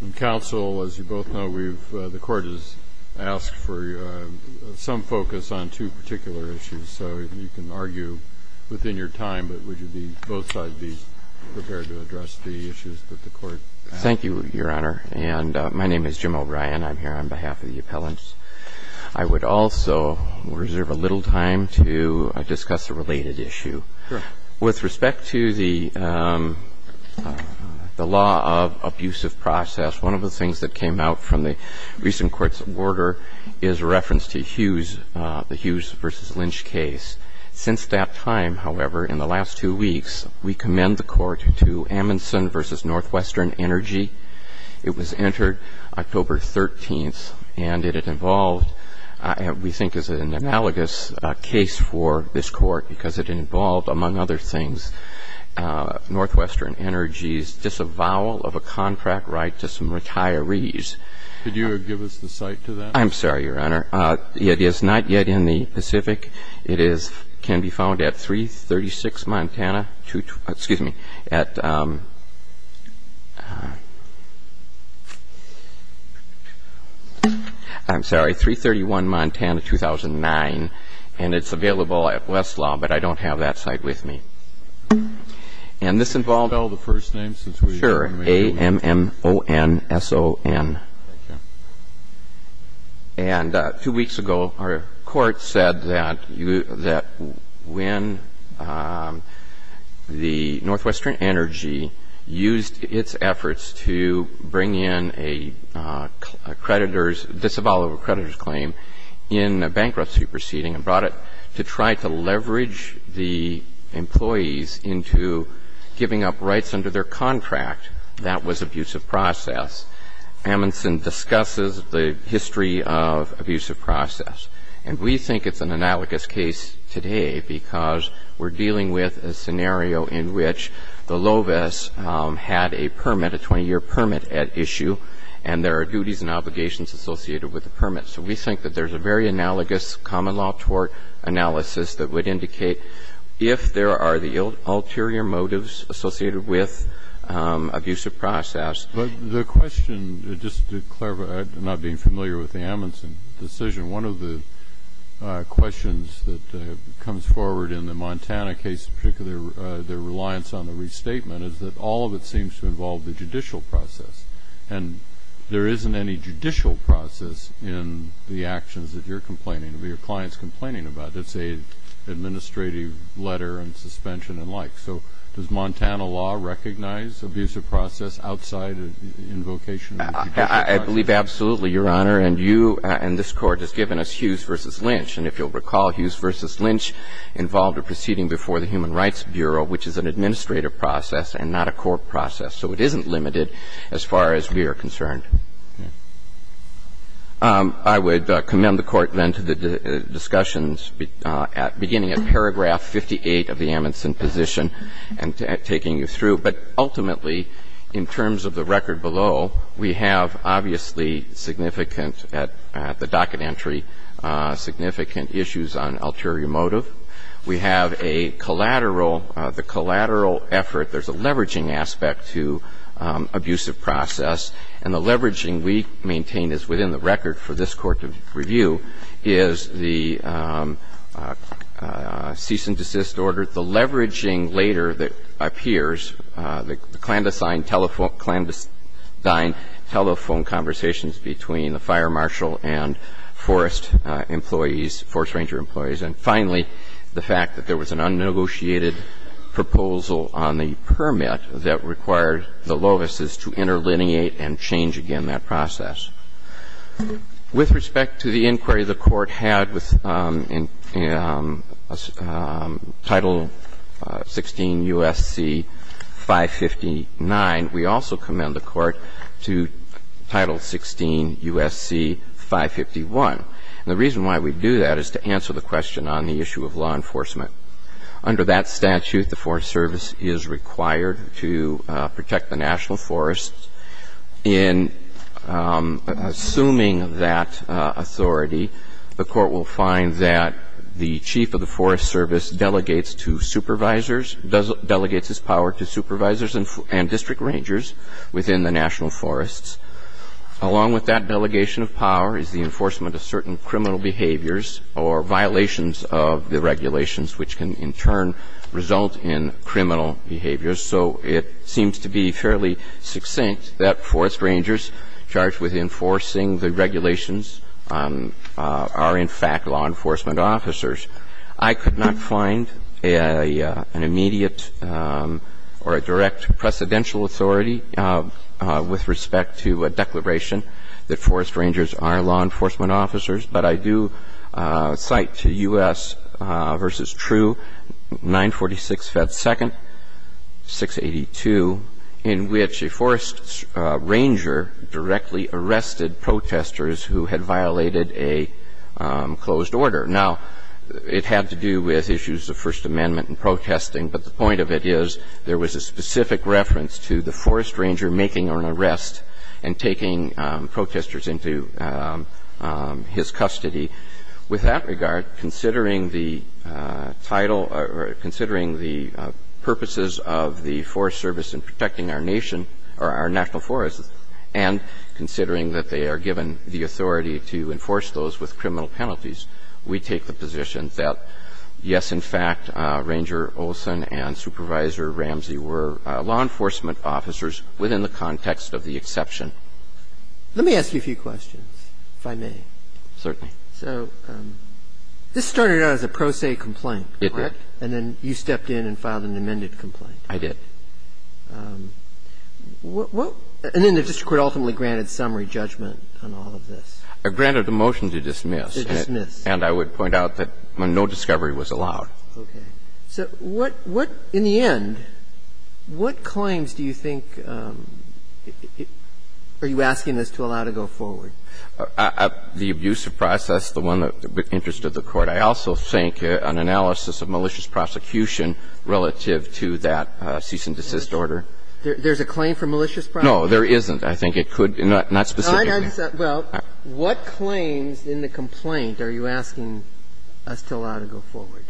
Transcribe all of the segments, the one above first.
And counsel, as you both know, we've, the court has asked for some focus on two particular issues. So you can argue within your time, but would you be, both sides be prepared to address the issues that the court has? Thank you, Your Honor. And my name is Jim O'Brien. I'm here on behalf of the appellants. I would also reserve a little time to discuss a related issue. Sure. With respect to the law of abusive process, one of the things that came out from the recent court's order is a reference to Hughes, the Hughes v. Lynch case. Since that time, however, in the last two weeks, we commend the court to Amundsen v. Northwestern Energy. It was entered October 13th, and it involved, we think is an analogous case for this court because it involved, among other things, Northwestern Energy's disavowal of a contract right to some retirees. Could you give us the site to that? I'm sorry, Your Honor. It is not yet in the Pacific. It is, can be found at 336 Montana, excuse me, at, I'm sorry, 331 Montana, 2009. And it's available at Westlaw, but I don't have that site with me. Could you spell the first name? Sure. A-M-M-O-N-S-O-N. Okay. And two weeks ago, our court said that when the Northwestern Energy used its efforts to bring in a creditor's, disavowal of a creditor's claim in a bankruptcy proceeding and brought it to try to leverage the employees into giving up rights under their contract, that was abusive process. Amundson discusses the history of abusive process. And we think it's an analogous case today because we're dealing with a scenario in which the LOVIS had a permit, a 20-year permit at issue, and there are duties and obligations associated with the permit. So we think that there's a very analogous common law tort analysis that would indicate if there are the ulterior motives associated with abusive process. But the question, just to clarify, not being familiar with the Amundson decision, one of the questions that comes forward in the Montana case, particularly their reliance on the restatement, is that all of it seems to involve the judicial process. And there isn't any judicial process in the actions that you're complaining, or your client's complaining about. It's an administrative letter and suspension and the like. So does Montana law recognize abusive process outside invocation? I believe absolutely, Your Honor. And you and this Court has given us Hughes v. Lynch. And if you'll recall, Hughes v. Lynch involved a proceeding before the Human Rights Bureau, which is an administrative process and not a court process. So it isn't limited as far as we are concerned. I would commend the Court then to the discussions beginning at paragraph 58 of the Amundson position and taking you through. But ultimately, in terms of the record below, we have obviously significant at the docket entry, significant issues on ulterior motive. We have a collateral, the collateral effort. There's a leveraging aspect to abusive process. And the leveraging we maintain is within the record for this Court to review is the cease and desist order. The leveraging later that appears, the clandestine telephone conversations between the fire marshal and forest employees, forest ranger employees. And finally, the fact that there was an unnegotiated proposal on the permit that required the lovices to interlineate and change again that process. With respect to the inquiry the Court had with Title 16 U.S.C. 559, we also commend the Court to Title 16 U.S.C. 551. And the reason why we do that is to answer the question on the issue of law enforcement. Under that statute, the Forest Service is required to protect the national forests in assuming that authority, the Court will find that the chief of the Forest Service delegates to supervisors, delegates his power to supervisors and district rangers within the national forests. Along with that delegation of power is the enforcement of certain criminal behaviors or violations of the regulations, which can in turn result in criminal behaviors. So it seems to be fairly succinct that forest rangers charged with enforcing the regulations are in fact law enforcement officers. I could not find an immediate or a direct precedential authority with respect to a declaration that forest rangers are law enforcement officers, but I do cite to U.S. versus True, 946 Fed Second, 682, in which a forest ranger directly arrested protesters who had violated a closed order. Now, it had to do with issues of First Amendment and protesting, but the point of it is there was a specific reference to the forest ranger making an arrest and taking protesters into his custody. With that regard, considering the title or considering the purposes of the Forest Service in protecting our nation or our national forests and considering that they are given the authority to enforce those with criminal penalties, we take the position that, yes, in fact, Ranger Olson and Supervisor Ramsey were law enforcement officers within the context of the exception. Let me ask you a few questions, if I may. Certainly. So this started out as a pro se complaint, correct? It did. And then you stepped in and filed an amended complaint. I did. And then the district court ultimately granted summary judgment on all of this. It granted a motion to dismiss. To dismiss. And I would point out that no discovery was allowed. Okay. So what, in the end, what claims do you think are you asking this to allow to go forward? The abusive process, the one that interested the Court. I also think an analysis of malicious prosecution relative to that cease and desist order. There's a claim for malicious prosecution? No, there isn't. I think it could be. Not specifically. Well, what claims in the complaint are you asking us to allow to go forward?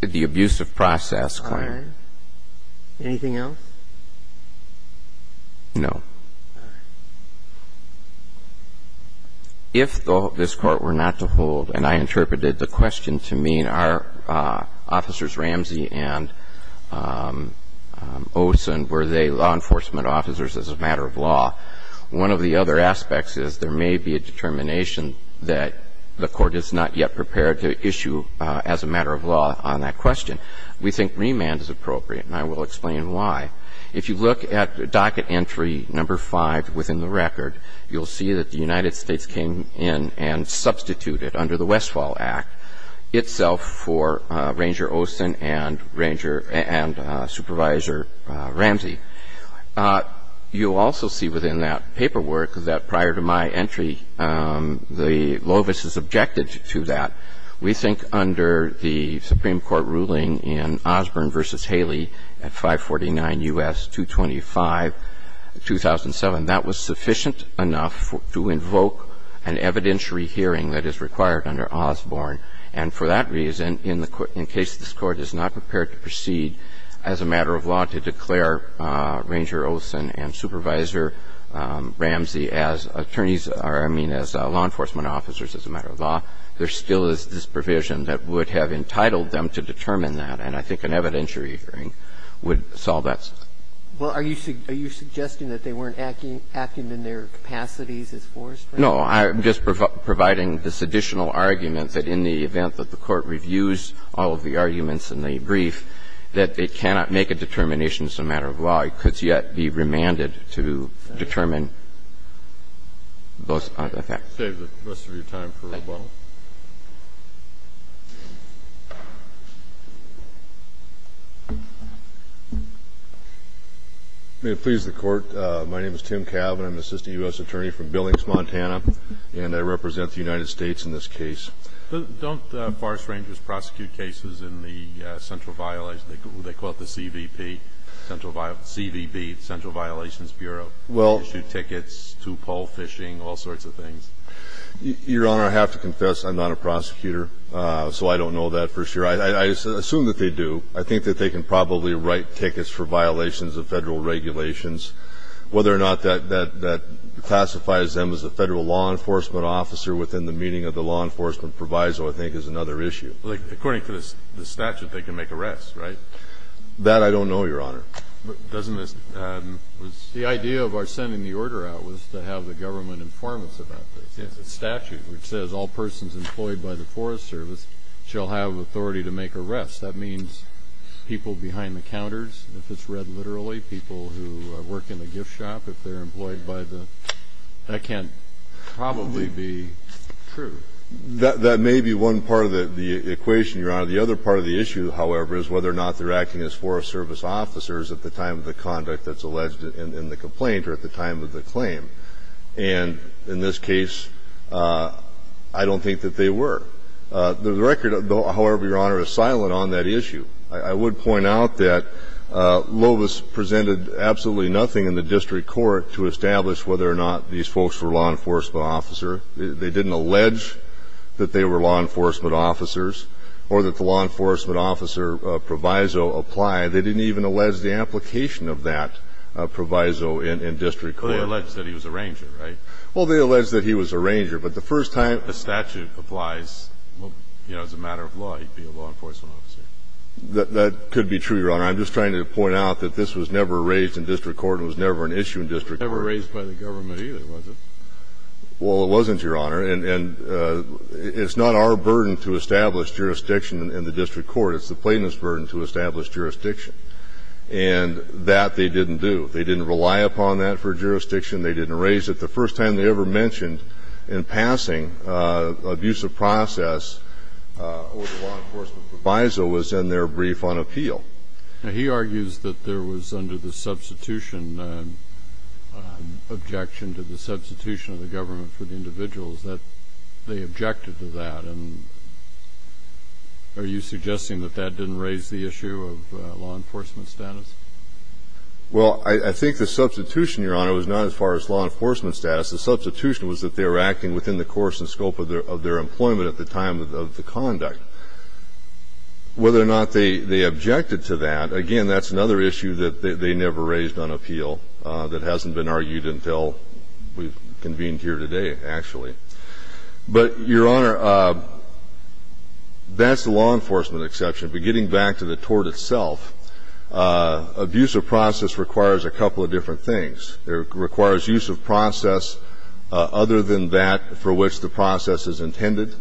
The abusive process claim. All right. Anything else? No. If this Court were not to hold, and I interpreted the question to mean are Officers Ramsey and Olson, were they law enforcement officers as a matter of law, one of the other aspects is there may be a determination that the Court is not yet prepared to issue as a matter of law on that question. We think remand is appropriate, and I will explain why. If you look at docket entry number 5 within the record, you'll see that the United States came in and substituted under the Westfall Act itself for Ranger Olson and Supervisor Ramsey. You'll also see within that paperwork that prior to my entry, the LOVIS is objected to that. We think under the Supreme Court ruling in Osborne v. Haley at 549 U.S. 225, 2007, that was sufficient enough to invoke an evidentiary hearing that is required under Osborne. And for that reason, in case this Court is not prepared to proceed as a matter of law to declare Ranger Olson and Supervisor Ramsey as attorneys or, I mean, as law enforcement officers, I think that the Court would have to make a determination And I don't think that there is a provision that would have entitled them to determine that, and I think an evidentiary hearing would solve that. Robertson, Well, are you suggesting that they weren't acting in their capacities as forestry? No. I'm just providing this additional argument that in the event that the Court reviews all of the arguments in the brief, that they cannot make a determination as a matter of law. It could yet be remanded to determine those facts. I'll save the rest of your time for rebuttal. May it please the Court. My name is Tim Cavin. I'm an assistant U.S. attorney from Billings, Montana, and I represent the United States in this case. Don't forest rangers prosecute cases in the central violation? They call it the CVB, Central Violations Bureau. Well. They issue tickets to pole fishing, all sorts of things. Your Honor, I have to confess I'm not a prosecutor, so I don't know that for sure. I assume that they do. I think that they can probably write tickets for violations of Federal regulations. Whether or not that pacifies them as a Federal law enforcement officer within the meaning of the law enforcement proviso, I think, is another issue. According to the statute, they can make arrests, right? That I don't know, Your Honor. The idea of our sending the order out was to have the government inform us about this. It's a statute which says all persons employed by the Forest Service shall have authority to make arrests. That means people behind the counters, if it's read literally, people who work in the gift shop, if they're employed by the ñ that can't probably be true. That may be one part of the equation, Your Honor. The other part of the issue, however, is whether or not they're acting as Forest Service officers at the time of the conduct that's alleged in the complaint or at the time of the claim. And in this case, I don't think that they were. The record, however, Your Honor, is silent on that issue. I would point out that Lovis presented absolutely nothing in the district court to establish whether or not these folks were law enforcement officer. They didn't allege that they were law enforcement officers or that the law enforcement officer proviso applied. They didn't even allege the application of that proviso in district court. Well, they alleged that he was a ranger, right? Well, they alleged that he was a ranger. But the first timeó If the statute applies, you know, as a matter of law, he'd be a law enforcement officer. That could be true, Your Honor. I'm just trying to point out that this was never raised in district court and was never an issue in district court. It was never raised by the government either, was it? Well, it wasn't, Your Honor. And it's not our burden to establish jurisdiction in the district court. It's the plaintiff's burden to establish jurisdiction. And that they didn't do. They didn't rely upon that for jurisdiction. They didn't raise it. The first time they ever mentioned in passing an abusive process over the law enforcement proviso was in their brief on appeal. Now, he argues that there was, under the substitution, objection to the substitution of the government for the individuals, that they objected to that. And are you suggesting that that didn't raise the issue of law enforcement status? Well, I think the substitution, Your Honor, was not as far as law enforcement status. The substitution was that they were acting within the course and scope of their employment at the time of the conduct. Whether or not they objected to that, again, that's another issue that they never raised on appeal that hasn't been argued until we've convened here today, actually. But, Your Honor, that's the law enforcement exception. But getting back to the tort itself, abusive process requires a couple of different things. It requires use of process other than that for which the process is intended.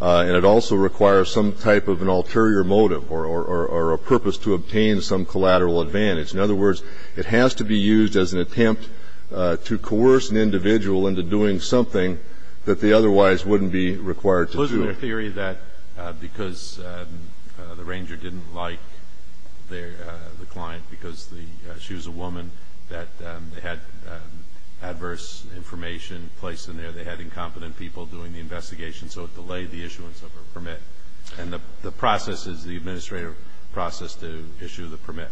And it also requires some type of an ulterior motive or a purpose to obtain some collateral advantage. In other words, it has to be used as an attempt to coerce an individual into doing something that they otherwise wouldn't be required to do. Is there a theory that because the ranger didn't like the client, because she was a woman, that they had adverse information placed in there, they had incompetent people doing the investigation, so it delayed the issuance of her permit? And the process is the administrative process to issue the permit.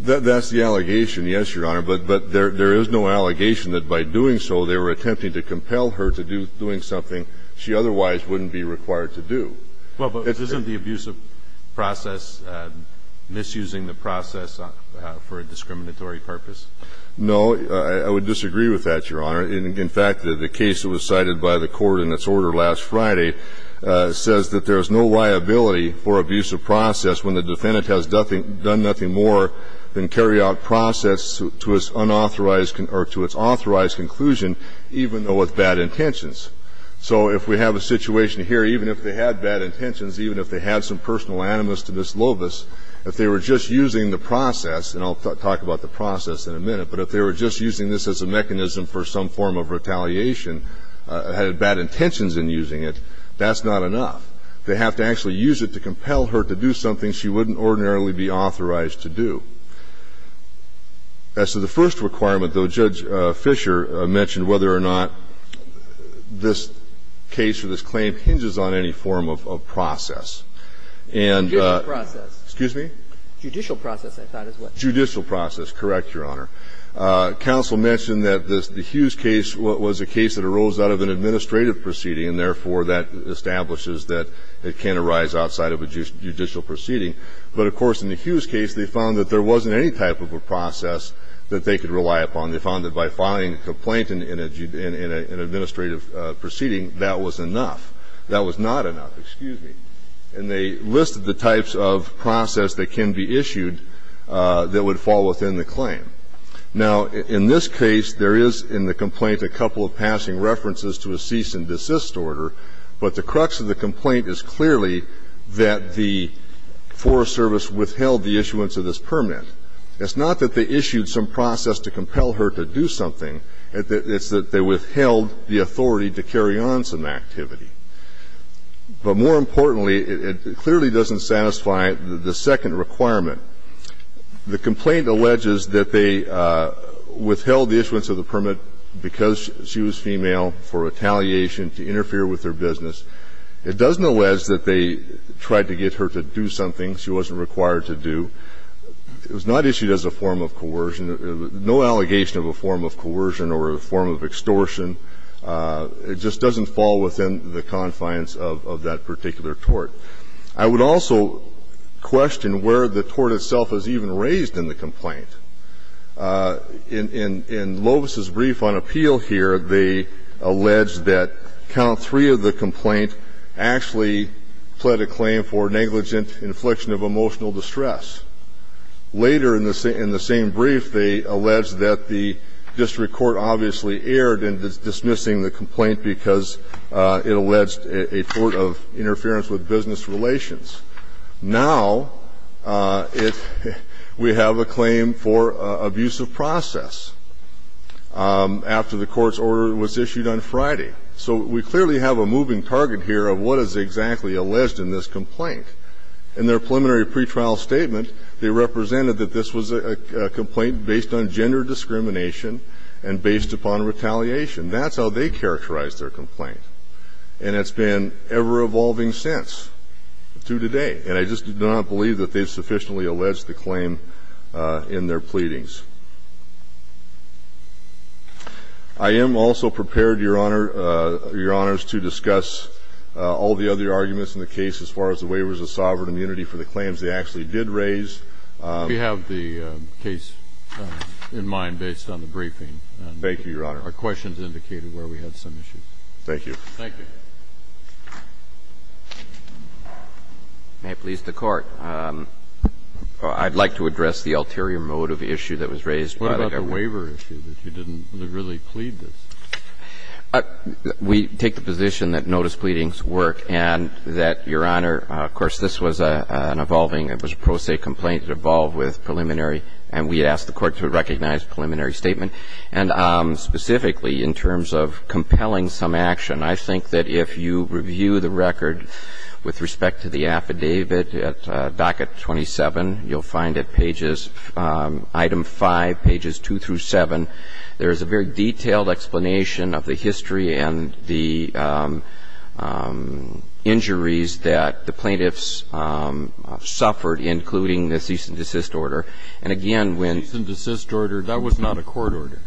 That's the allegation, yes, Your Honor. But there is no allegation that by doing so they were attempting to compel her to do something she otherwise wouldn't be required to do. Well, but isn't the abusive process misusing the process for a discriminatory purpose? No. I would disagree with that, Your Honor. In fact, the case that was cited by the Court in its order last Friday says that there is no liability for abusive process when the defendant has done nothing more than carry out process to its unauthorized or to its authorized conclusion even though with bad intentions. So if we have a situation here, even if they had bad intentions, even if they had some personal animus to this lobus, if they were just using the process, and I'll talk about the process in a minute, but if they were just using this as a mechanism for some form of retaliation, had bad intentions in using it, that's not enough. They have to actually use it to compel her to do something she wouldn't ordinarily be authorized to do. As to the first requirement, though, Judge Fischer mentioned whether or not this case or this claim hinges on any form of process. And the ---- Judicial process. Excuse me? Judicial process, I thought is what ---- Judicial process. Correct, Your Honor. Counsel mentioned that the Hughes case was a case that arose out of an administrative proceeding, and therefore that establishes that it can arise outside of a judicial proceeding. But, of course, in the Hughes case, they found that there wasn't any type of a process that they could rely upon. They found that by filing a complaint in an administrative proceeding, that was enough. That was not enough. Excuse me. And they listed the types of process that can be issued that would fall within the claim. Now, in this case, there is in the complaint a couple of passing references to a cease and desist order, but the crux of the complaint is clearly that the Forest Service withheld the issuance of this permit. It's not that they issued some process to compel her to do something. It's that they withheld the authority to carry on some activity. But more importantly, it clearly doesn't satisfy the second requirement. The complaint alleges that they withheld the issuance of the permit because she was female for retaliation to interfere with their business. It doesn't allege that they tried to get her to do something she wasn't required to do. It was not issued as a form of coercion. No allegation of a form of coercion or a form of extortion. It just doesn't fall within the confines of that particular tort. I would also question where the tort itself is even raised in the complaint. In Lovis's brief on appeal here, they allege that count three of the complaint actually pled a claim for negligent infliction of emotional distress. Later in the same brief, they allege that the district court obviously erred in dismissing the complaint because it alleged a tort of interference with business relations. Now we have a claim for abusive process after the court's order was issued on Friday. So we clearly have a moving target here of what is exactly alleged in this complaint. In their preliminary pretrial statement, they represented that this was a complaint based on gender discrimination and based upon retaliation. That's how they characterized their complaint. And it's been ever-evolving since to today. And I just do not believe that they've sufficiently alleged the claim in their pleadings. I am also prepared, Your Honor, Your Honors, to discuss all the other arguments in the case as far as the waivers of sovereign immunity for the claims they actually did raise. We have the case in mind based on the briefing. Thank you, Your Honor. Our questions indicated where we had some issues. Thank you. Thank you. May it please the Court. I'd like to address the ulterior motive issue that was raised. What about the waiver issue, that you didn't really plead this? We take the position that notice pleadings work and that, Your Honor, of course, this was an evolving, it was a pro se complaint. It evolved with preliminary. And we asked the Court to recognize preliminary statement. Specifically, in terms of compelling some action, I think that if you review the record with respect to the affidavit at docket 27, you'll find at pages, item 5, pages 2 through 7, there is a very detailed explanation of the history and the injuries that the plaintiffs suffered, including the cease and desist order. And again, when Cease and desist order, that was not a court order.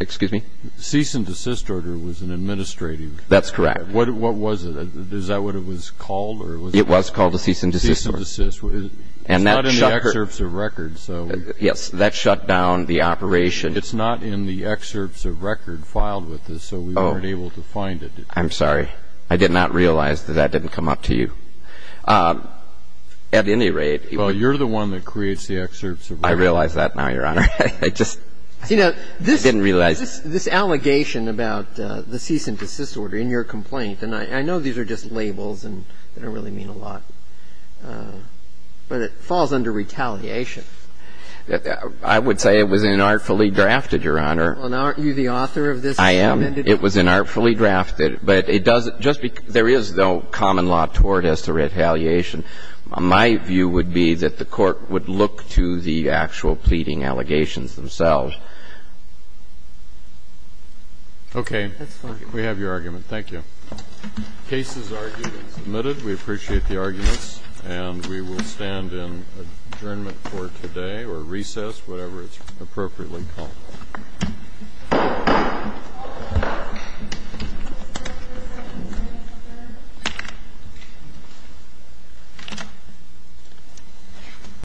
Excuse me? Cease and desist order was an administrative That's correct. What was it? Is that what it was called? It was called a cease and desist order. Cease and desist. It's not in the excerpts of record, so Yes. That shut down the operation. It's not in the excerpts of record filed with us, so we weren't able to find it. I'm sorry. I did not realize that that didn't come up to you. At any rate Well, you're the one that creates the excerpts of record. I realize that now, Your Honor. I just didn't realize it. You know, this allegation about the cease and desist order in your complaint, and I know these are just labels and they don't really mean a lot, but it falls under retaliation. I would say it was inartfully drafted, Your Honor. Well, now aren't you the author of this? I am. It was inartfully drafted. But it doesn't just because there is no common law toward us to retaliation. My view would be that the Court would look to the actual pleading allegations themselves. Okay. We have your argument. Thank you. The case is argued and submitted. We appreciate the arguments, and we will stand in adjournment for today or recess, whatever it's appropriately called. Thank you.